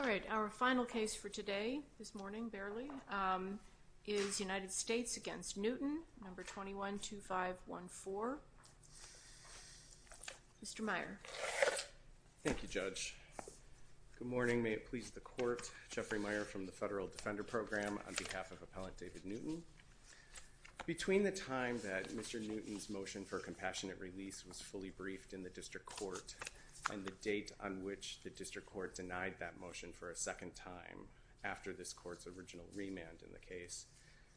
All right, our final case for today, this morning, barely, is United States v. Newton, No. 212514. Mr. Meyer. Thank you, Judge. Good morning. May it please the Court, Jeffrey Meyer from the Federal Defender Program on behalf of Appellant David Newton. Between the time that Mr. Newton's motion for a compassionate release was fully briefed in the District Court and the date on which the District Court denied that motion for a second time after this Court's original remand in the case,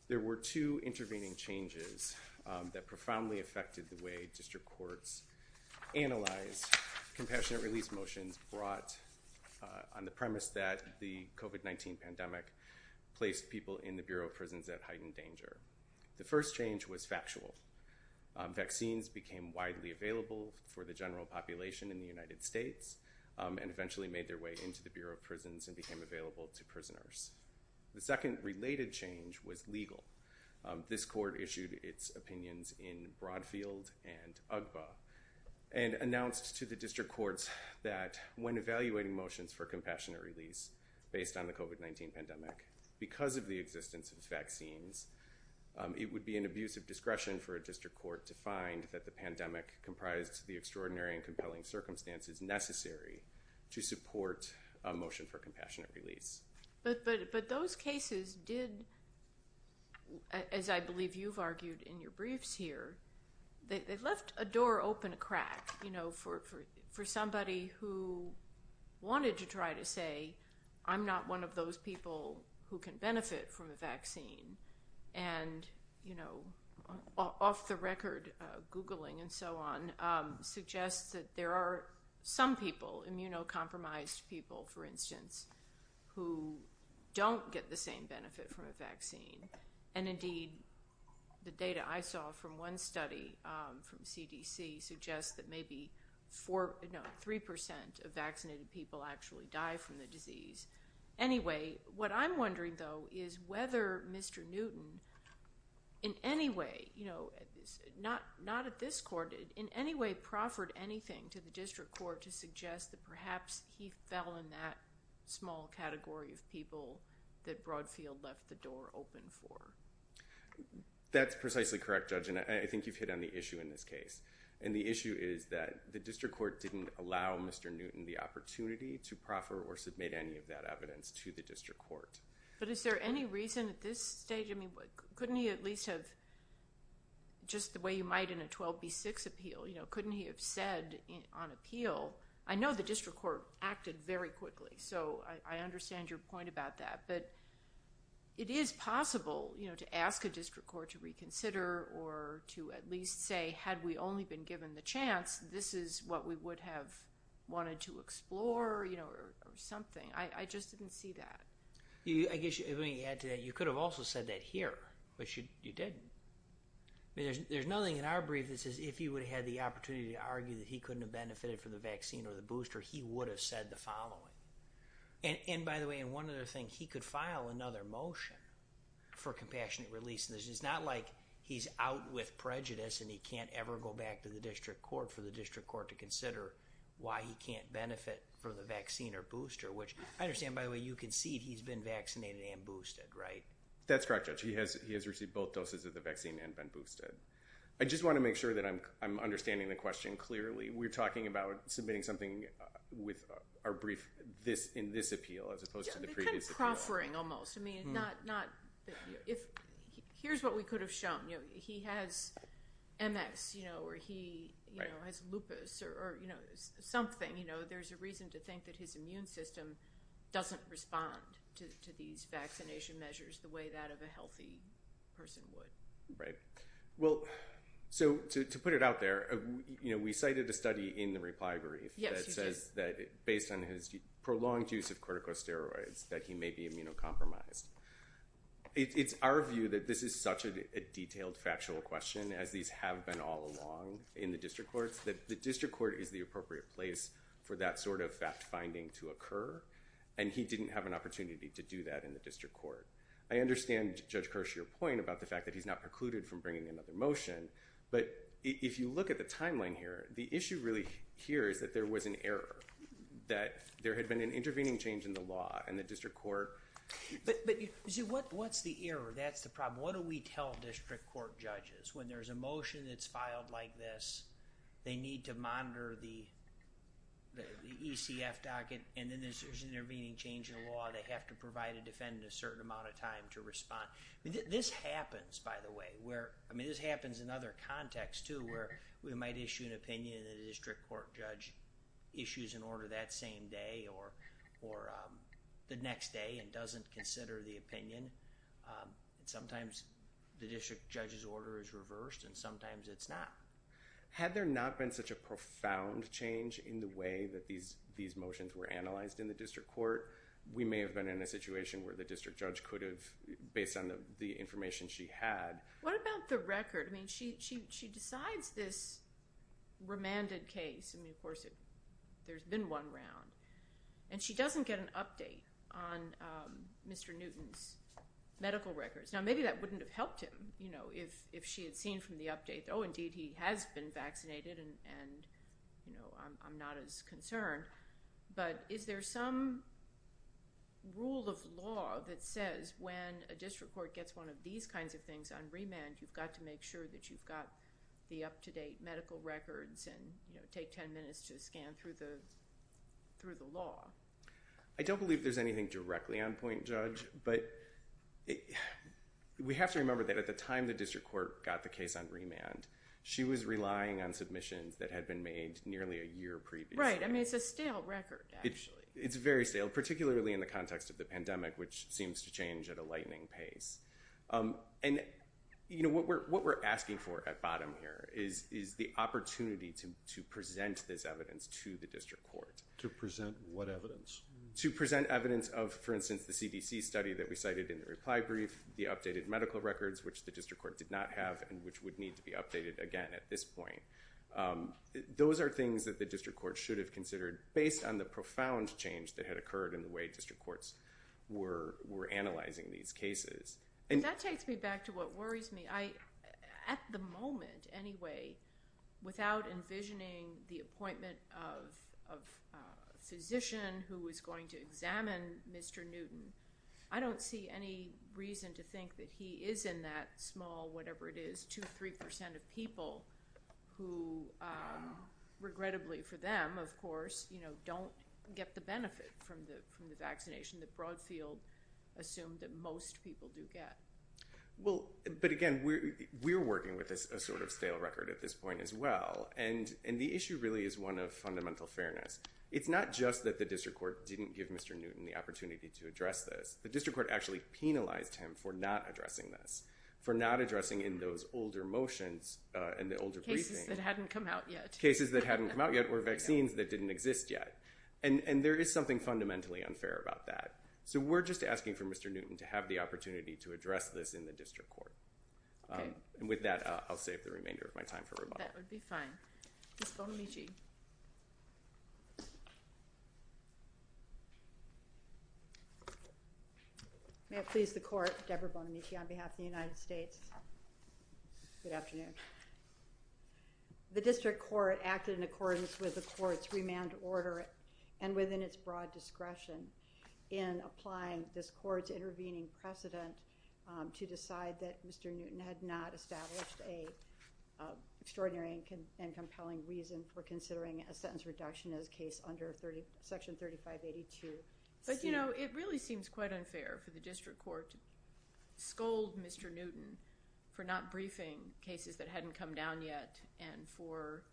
there were two intervening changes that profoundly affected the way District Courts analyzed compassionate release motions brought on the premise that the COVID-19 pandemic placed people in the Bureau of Prisons at heightened danger. The first change was factual. Vaccines became widely available for the general population in the United States and eventually made their way into the Bureau of Prisons and became available to prisoners. The second related change was legal. This Court issued its opinions in Broadfield and UGBA and announced to the District Courts that when evaluating motions for compassionate release based on the COVID-19 pandemic, because of the existence of vaccines, it would be an abuse of discretion for a District Court to find that the pandemic comprised the extraordinary and compelling circumstances necessary to support a motion for compassionate release. But those cases did, as I believe you've argued in your briefs here, they left a door open a crack, you know, for somebody who wanted to try to say, I'm not one of those people who can benefit from a vaccine. And, you know, off the record, Googling and so on, suggests that there are some people, immunocompromised people, for instance, who don't get the same benefit from a vaccine. And indeed, the data I saw from one study from CDC suggests that maybe three percent of vaccinated people actually die from the disease. Anyway, what I'm wondering, though, is whether Mr. Newton, in any way, you know, not at this Court, in any way proffered anything to the District Court to suggest that perhaps he fell in that small category of people that Broadfield left the door open for. That's precisely correct, Judge, and I think you've hit on the issue in this case. And the issue is that the District Court didn't allow Mr. Newton the opportunity to proffer or submit any of that evidence to the District Court. But is there any reason at this stage, I mean, couldn't he at least have, just the way you might in a 12B6 appeal, you know, couldn't he have said on appeal, I know the District Court acted very quickly, so I understand your point about that. But it is possible, you know, to ask a District Court to reconsider or to at least say, had we only been given the chance, this is what we would have wanted to explore, you know, or something. I just didn't see that. I guess, if I may add to that, you could have also said that here, but you didn't. I mean, there's nothing in our brief that says if he would have had the opportunity to argue that he couldn't have benefited from the vaccine or the booster, he would have said the following. And by the way, and one other thing, he could file another motion for compassionate release. It's not like he's out with prejudice and he can't ever go back to the District Court for the District Court to consider why he can't benefit from the vaccine or booster, which I understand, by the way, you concede he's been vaccinated and boosted, right? That's correct, Judge. He has received both doses of the vaccine and been boosted. I just want to make sure that I'm understanding the question clearly. We're talking about submitting something with our brief in this appeal as opposed to the previous appeal. Kind of proffering almost. I mean, not, if, here's what we could have shown. He has MS, you know, or he has lupus or, you know, something, you know, there's a reason to think that his immune system doesn't respond to these vaccination measures the way that of a healthy person would. Right. Well, so to put it out there, you know, we cited a study in the reply brief that says that based on his prolonged use of corticosteroids, that he may be immunocompromised. It's our view that this is such a detailed factual question, as these have been all along in the District Courts, that the District Court is the appropriate place for that sort of fact finding to occur. And he didn't have an opportunity to do that in the District Court. I understand, Judge Kirsch, your point about the fact that he's not precluded from bringing another motion, but if you look at the timeline here, the issue really here is that there was an error. That there had been an intervening change in the law and the District Court. But, but, you see, what, what's the error? That's the problem. What do we tell District Court judges? When there's a motion that's filed like this, they need to monitor the ECF docket and then there's an intervening change in the law. They have to provide a defendant a certain amount of time to respond. This happens, by the way, where, I mean, this happens in other contexts, too, where we might issue an opinion and the District Court judge issues an order that same day or, or the next day and doesn't consider the opinion. Sometimes the District Judge's order is reversed and sometimes it's not. Had there not been such a profound change in the way that these, these motions were filed, the District Judge could have, based on the information she had. What about the record? I mean, she, she, she decides this remanded case. I mean, of course, there's been one round. And she doesn't get an update on Mr. Newton's medical records. Now, maybe that wouldn't have helped him, you know, if, if she had seen from the update, oh, indeed, he has been vaccinated and, and, you know, I'm, I'm not as concerned. But is there some rule of law that says when a District Court gets one of these kinds of things on remand, you've got to make sure that you've got the up-to-date medical records and, you know, take 10 minutes to scan through the, through the law? I don't believe there's anything directly on point, Judge, but it, we have to remember that at the time the District Court got the case on remand, she was relying on submissions that had been made nearly a year previously. Right. I mean, it's a stale record, actually. It's very stale, particularly in the context of the pandemic, which seems to change at a lightning pace. And, you know, what we're, what we're asking for at bottom here is, is the opportunity to, to present this evidence to the District Court. To present what evidence? To present evidence of, for instance, the CDC study that we cited in the reply brief, the updated medical records, which the District Court did not have, and which would need to be updated again at this point. Those are things that the District Court should have considered based on the profound change that had occurred in the way District Courts were, were analyzing these cases. And that takes me back to what worries me. I, at the moment, anyway, without envisioning the appointment of, of a physician who was going to examine Mr. Newton, I don't see any reason to think that he is in that small, whatever it is, two, 3% of people who, regrettably for them, of course, you know, don't get the benefit from the, from the vaccination that Broadfield assumed that most people do get. Well, but again, we're, we're working with this, a sort of stale record at this point as well. And, and the issue really is one of fundamental fairness. It's not just that the District Court didn't give Mr. Newton the opportunity to address this. The District Court actually penalized him for not addressing this, for not addressing in those older motions and the older briefings. Cases that hadn't come out yet. Cases that hadn't come out yet, or vaccines that didn't exist yet. And, and there is something fundamentally unfair about that. So we're just asking for Mr. Newton to have the opportunity to address this in the District Court. And with that, I'll save the remainder of my time for rebuttal. I think that would be fine. Ms. Bonamici. May it please the Court, Deborah Bonamici on behalf of the United States. Good afternoon. The District Court acted in accordance with the Court's remand order and within its broad discretion in applying this Court's intervening precedent to decide that Mr. Newton had not established a extraordinary and compelling reason for considering a sentence reduction as case under Section 3582C. But you know, it really seems quite unfair for the District Court to scold Mr. Newton for not briefing cases that hadn't come down yet and for,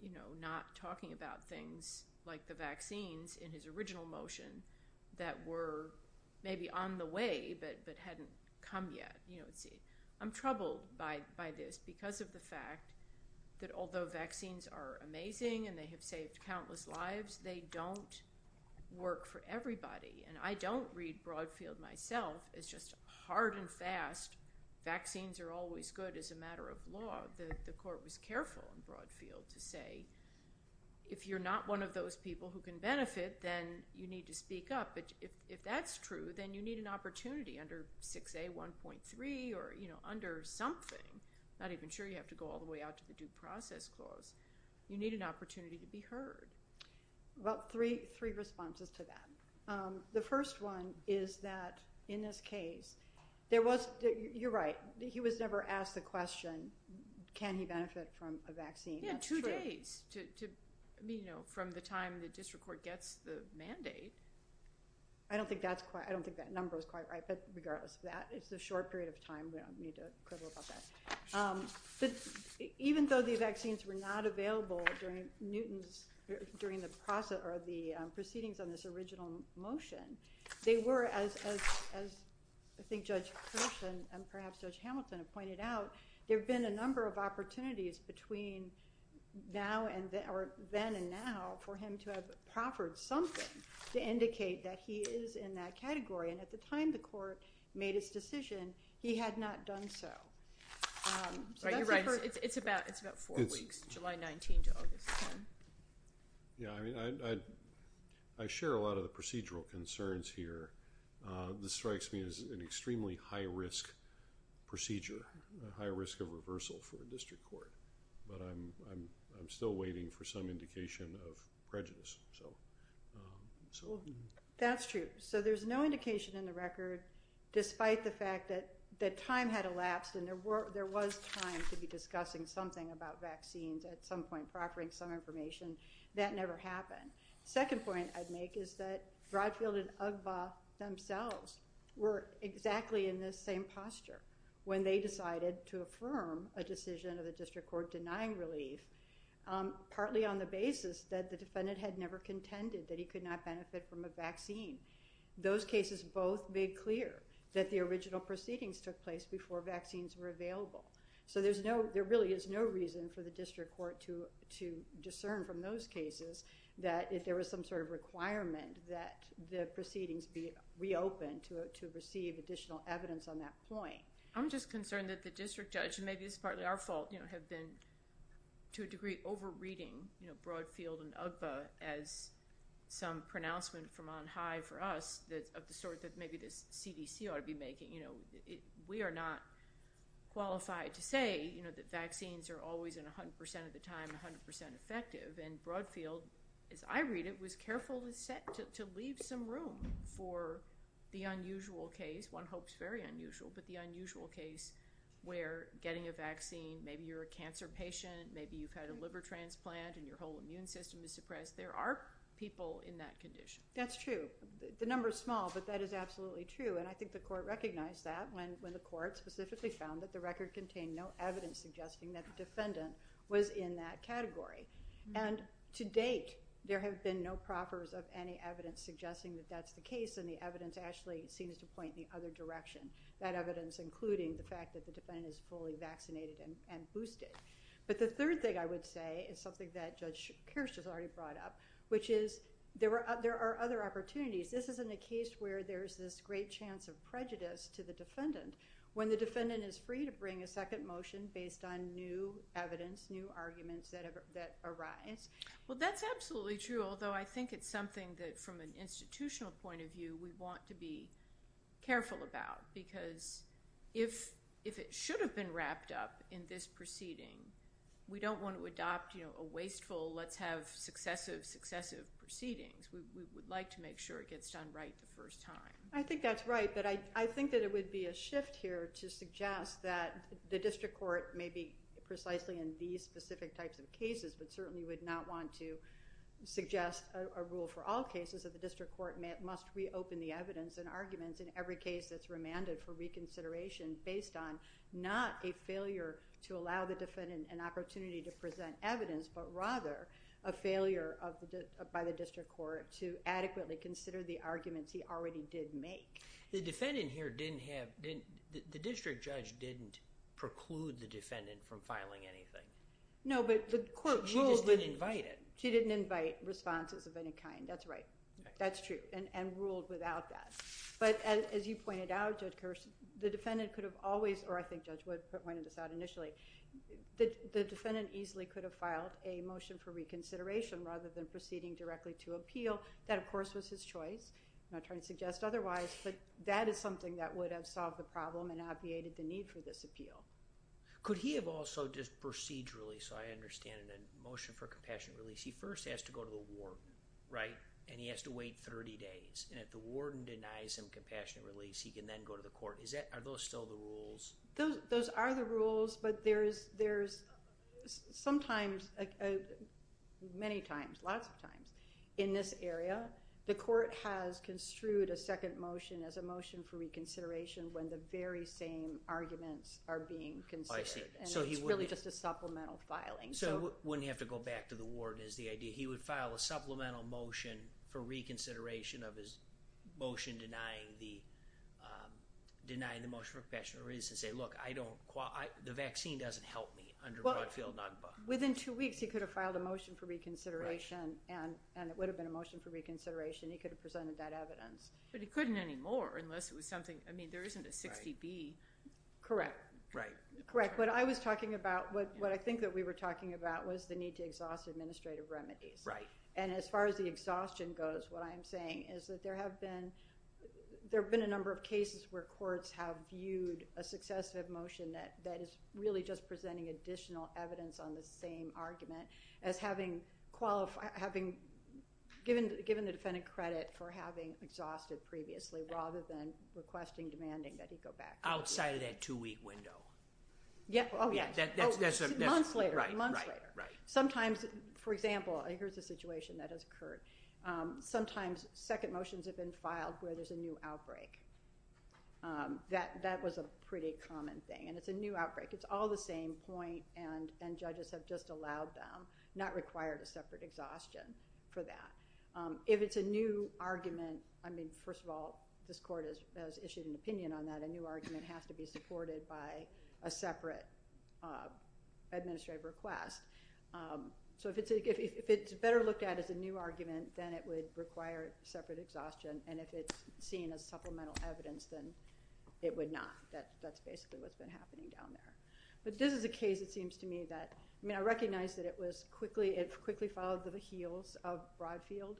you know, not talking about things like the vaccines in his original motion that were maybe on the way, but, but hadn't come down yet. You know, it's, I'm troubled by, by this because of the fact that although vaccines are amazing and they have saved countless lives, they don't work for everybody. And I don't read Broadfield myself as just hard and fast. Vaccines are always good as a matter of law. The Court was careful in Broadfield to say, if you're not one of those people who can benefit, then you need to speak up. But if, if that's true, then you need an opportunity under 6A1.3 or, you know, under something, not even sure you have to go all the way out to the Due Process Clause, you need an opportunity to be heard. Well, three, three responses to that. The first one is that in this case, there was, you're right, he was never asked the question, can he benefit from a vaccine? Yeah, two days to, you know, from the time the District Court gets the mandate. I don't think that's quite, I don't think that number is quite right, but regardless of that, it's a short period of time. We don't need to quibble about that. But even though the vaccines were not available during Newton's, during the process or the proceedings on this original motion, they were, as, as, as I think Judge Hershen and perhaps Judge Hamilton have pointed out, there've been a number of opportunities between now and then, or then and now for him to have proffered something to indicate that he is in that category. And at the time the court made his decision, he had not done so. Right, you're right. It's about, it's about four weeks, July 19 to August 10. Yeah, I mean, I, I share a lot of the procedural concerns here. This strikes me as an extremely high risk procedure, a high risk of reversal for a District Court. But I'm, I'm, I'm still waiting for some indication of prejudice. So, so. That's true. So there's no indication in the record, despite the fact that, that time had elapsed and there were, there was time to be discussing something about vaccines at some point, proffering some information, that never happened. Second point I'd make is that Broadfield and Ugba themselves were exactly in this same posture when they decided to partly on the basis that the defendant had never contended that he could not benefit from a vaccine. Those cases both made clear that the original proceedings took place before vaccines were available. So there's no, there really is no reason for the District Court to, to discern from those cases that if there was some sort of requirement that the proceedings be reopened to, to receive additional evidence on that point. I'm just concerned that the District Judge, and maybe this is partly our fault, you know, have been to a degree over-reading, you know, Broadfield and Ugba as some pronouncement from on high for us that, of the sort that maybe the CDC ought to be making. You know, we are not qualified to say, you know, that vaccines are always in a hundred percent of the time, a hundred percent effective. And Broadfield, as I read it, was careful to set, to leave some room for the unusual case, one hopes very unusual, but the unusual case where you're getting a vaccine, maybe you're a cancer patient, maybe you've had a liver transplant and your whole immune system is suppressed. There are people in that condition. That's true. The number is small, but that is absolutely true. And I think the court recognized that when, when the court specifically found that the record contained no evidence suggesting that the defendant was in that category. And to date, there have been no proffers of any evidence suggesting that that's the case. And the evidence actually seems to point the other direction, that evidence, including the fact that the defendant is fully vaccinated and boosted. But the third thing I would say is something that Judge Kirsch has already brought up, which is there are other opportunities. This isn't a case where there's this great chance of prejudice to the defendant when the defendant is free to bring a second motion based on new evidence, new arguments that have, that arise. Well, that's absolutely true. Although I think it's something that from an institutional point of view, we want to be careful about because if, if it should have been wrapped up in this proceeding, we don't want to adopt, you know, a wasteful, let's have successive successive proceedings. We would like to make sure it gets done right the first time. I think that's right. But I think that it would be a shift here to suggest that the district court may be precisely in these specific types of cases, but certainly would not want to suggest a rule for all cases of the district court must reopen the evidence and arguments in every case that's remanded for reconsideration based on not a failure to allow the defendant an opportunity to present evidence, but rather a failure of the, by the district court to adequately consider the arguments he already did make. The defendant here didn't have, the district judge didn't preclude the defendant from filing anything. No, but the court ruled. She just didn't invite it. She didn't invite responses of any kind. That's right. That's true. And, and ruled without that. But as you pointed out, Judge Kerr, the defendant could have always, or I think Judge Wood pointed this out initially, that the defendant easily could have filed a motion for reconsideration rather than proceeding directly to appeal. That of course was his choice. I'm not trying to suggest otherwise, but that is something that would have solved the problem and obviated the need for this appeal. Could he have also just procedurally, so I understand in a motion for compassionate release, he first has to go to the warden, right? And he has to wait 30 days. And if the warden denies him compassionate release, he can then go to the court. Is that, are those still the rules? Those, those are the rules, but there's, there's sometimes, many times, lots of times in this area, the court has construed a second motion as a motion for reconsideration when the very same arguments are being considered. Oh, I see. And it's really just a supplemental filing. So he wouldn't have to go back to the warden is the idea. He would file a supplemental motion for reconsideration of his motion denying the, denying the motion for compassionate release and say, look, I don't, the vaccine doesn't help me under Broadfield NAGPA. Within two weeks, he could have filed a motion for reconsideration and, and it would have been a motion for reconsideration. He could have presented that evidence. But he couldn't anymore unless it was something, I mean, there isn't a 60B. Correct. Correct. What I was talking about, what, what I think that we were talking about was the need to exhaust administrative remedies. Right. And as far as the exhaustion goes, what I'm saying is that there have been, there've been a number of cases where courts have viewed a successive motion that, that is really just presenting additional evidence on the same argument as having qualified, having given, given the defendant credit for having exhausted previously rather than requesting, demanding that he go back. Outside of that two week window. Yeah. Oh, yeah. Months later, months later. Sometimes, for example, here's a situation that has occurred. Sometimes second motions have been filed where there's a new outbreak. That that was a pretty common thing and it's a new outbreak. It's all the same point and, and judges have just allowed them, not required a separate exhaustion for that. If it's a new argument, I mean, first of all, this court has issued an opinion on that. A new argument has to be supported by a separate administrative request. So if it's a, if it's better looked at as a new argument, then it would require separate exhaustion. And if it's seen as supplemental evidence, then it would not. That, that's basically what's been happening down there. But this is a case, it seems to me, that, I mean, I recognize that it was quickly, it quickly followed the heels of Broadfield.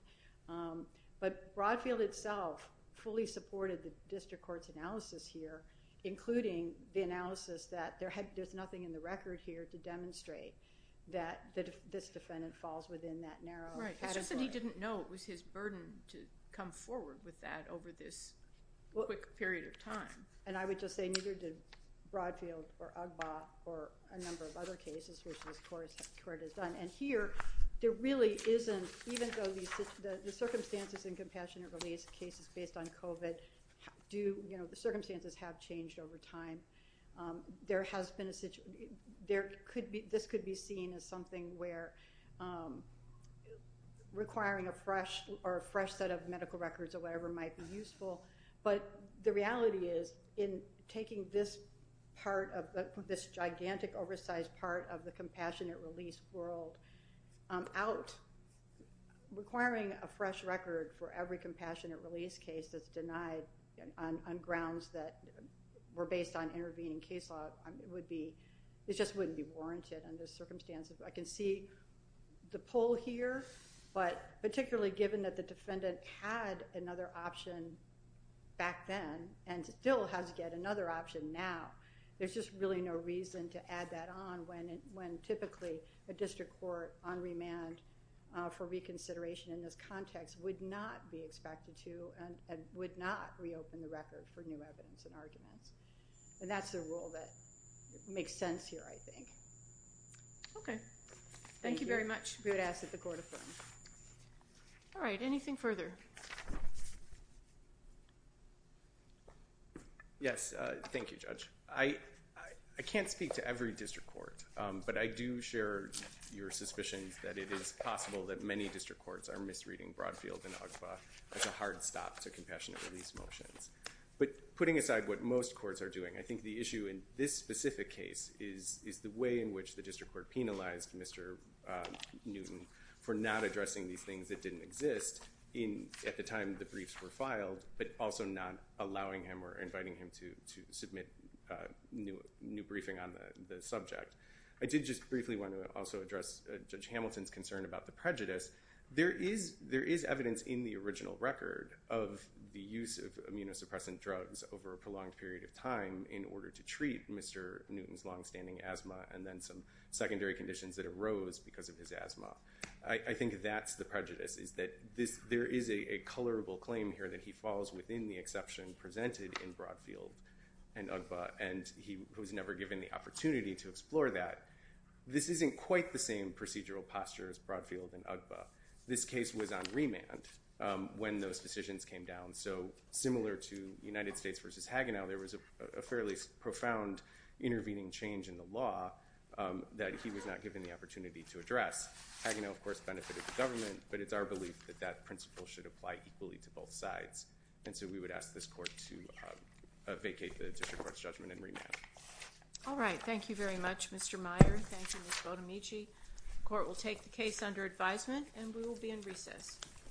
But Broadfield itself fully supported the district court's analysis here, including the analysis that there had, there's nothing in the record here to demonstrate that, that this defendant falls within that narrow category. Right. It's just that he didn't know it was his burden to come forward with that over this quick period of time. And I would just say neither did Broadfield or UGBA or a number of other cases which this court has done. And here, there really isn't, even though these, the circumstances in compassionate release cases based on COVID do, you know, the circumstances have changed over time. There has been a situation, there could be, this could be seen as something where requiring a fresh or a fresh set of medical records or whatever might be useful. But the reality is in taking this part of, this gigantic oversized part of the compassionate release world out, requiring a fresh record for every compassionate release case that's denied on grounds that were based on intervening case law would be, it just wouldn't be warranted under the circumstances. I can see the pull here, but particularly given that the defendant had another option back then and still has to get another option now, there's just really no reason to add that on when typically a district court on remand for reconsideration in this context would not be expected to and would not reopen the record for new evidence and arguments. And that's the rule that makes sense here, I think. Okay. Thank you very much. We would ask that the court affirm. All right. Anything further? Yes. Thank you, Judge. I can't speak to every district court, but I do share your suspicions that it is possible that many district courts are misreading Broadfield and UGPA as a hard stop to compassionate release motions. But putting aside what most courts are doing, I think the issue in this specific case is the way in which the district court penalized Mr. Newton for not addressing these things that didn't exist at the time the briefs were filed, but also not allowing him or inviting him to submit new briefing on the subject. I did just briefly want to also address Judge Hamilton's concern about the prejudice. There is evidence in the original record of the use of immunosuppressant drugs over a prolonged period of time in order to treat Mr. Newton's longstanding asthma and then some secondary conditions that arose because of his asthma. I think that's the prejudice, is that there is a colorable claim here that he falls within the exception presented in Broadfield and UGPA, and he was never given the opportunity to explore that. This isn't quite the same procedural posture as Broadfield and UGPA. This case was on remand when those decisions came down. So similar to United States v. Hagenau, there was a fairly profound intervening change in law that he was not given the opportunity to address. Hagenau, of course, benefited the government, but it's our belief that that principle should apply equally to both sides. And so we would ask this court to vacate the district court's judgment and remand. All right. Thank you very much, Mr. Meyer. Thank you, Ms. Bodemici. The court will take the case under advisement, and we will be in recess.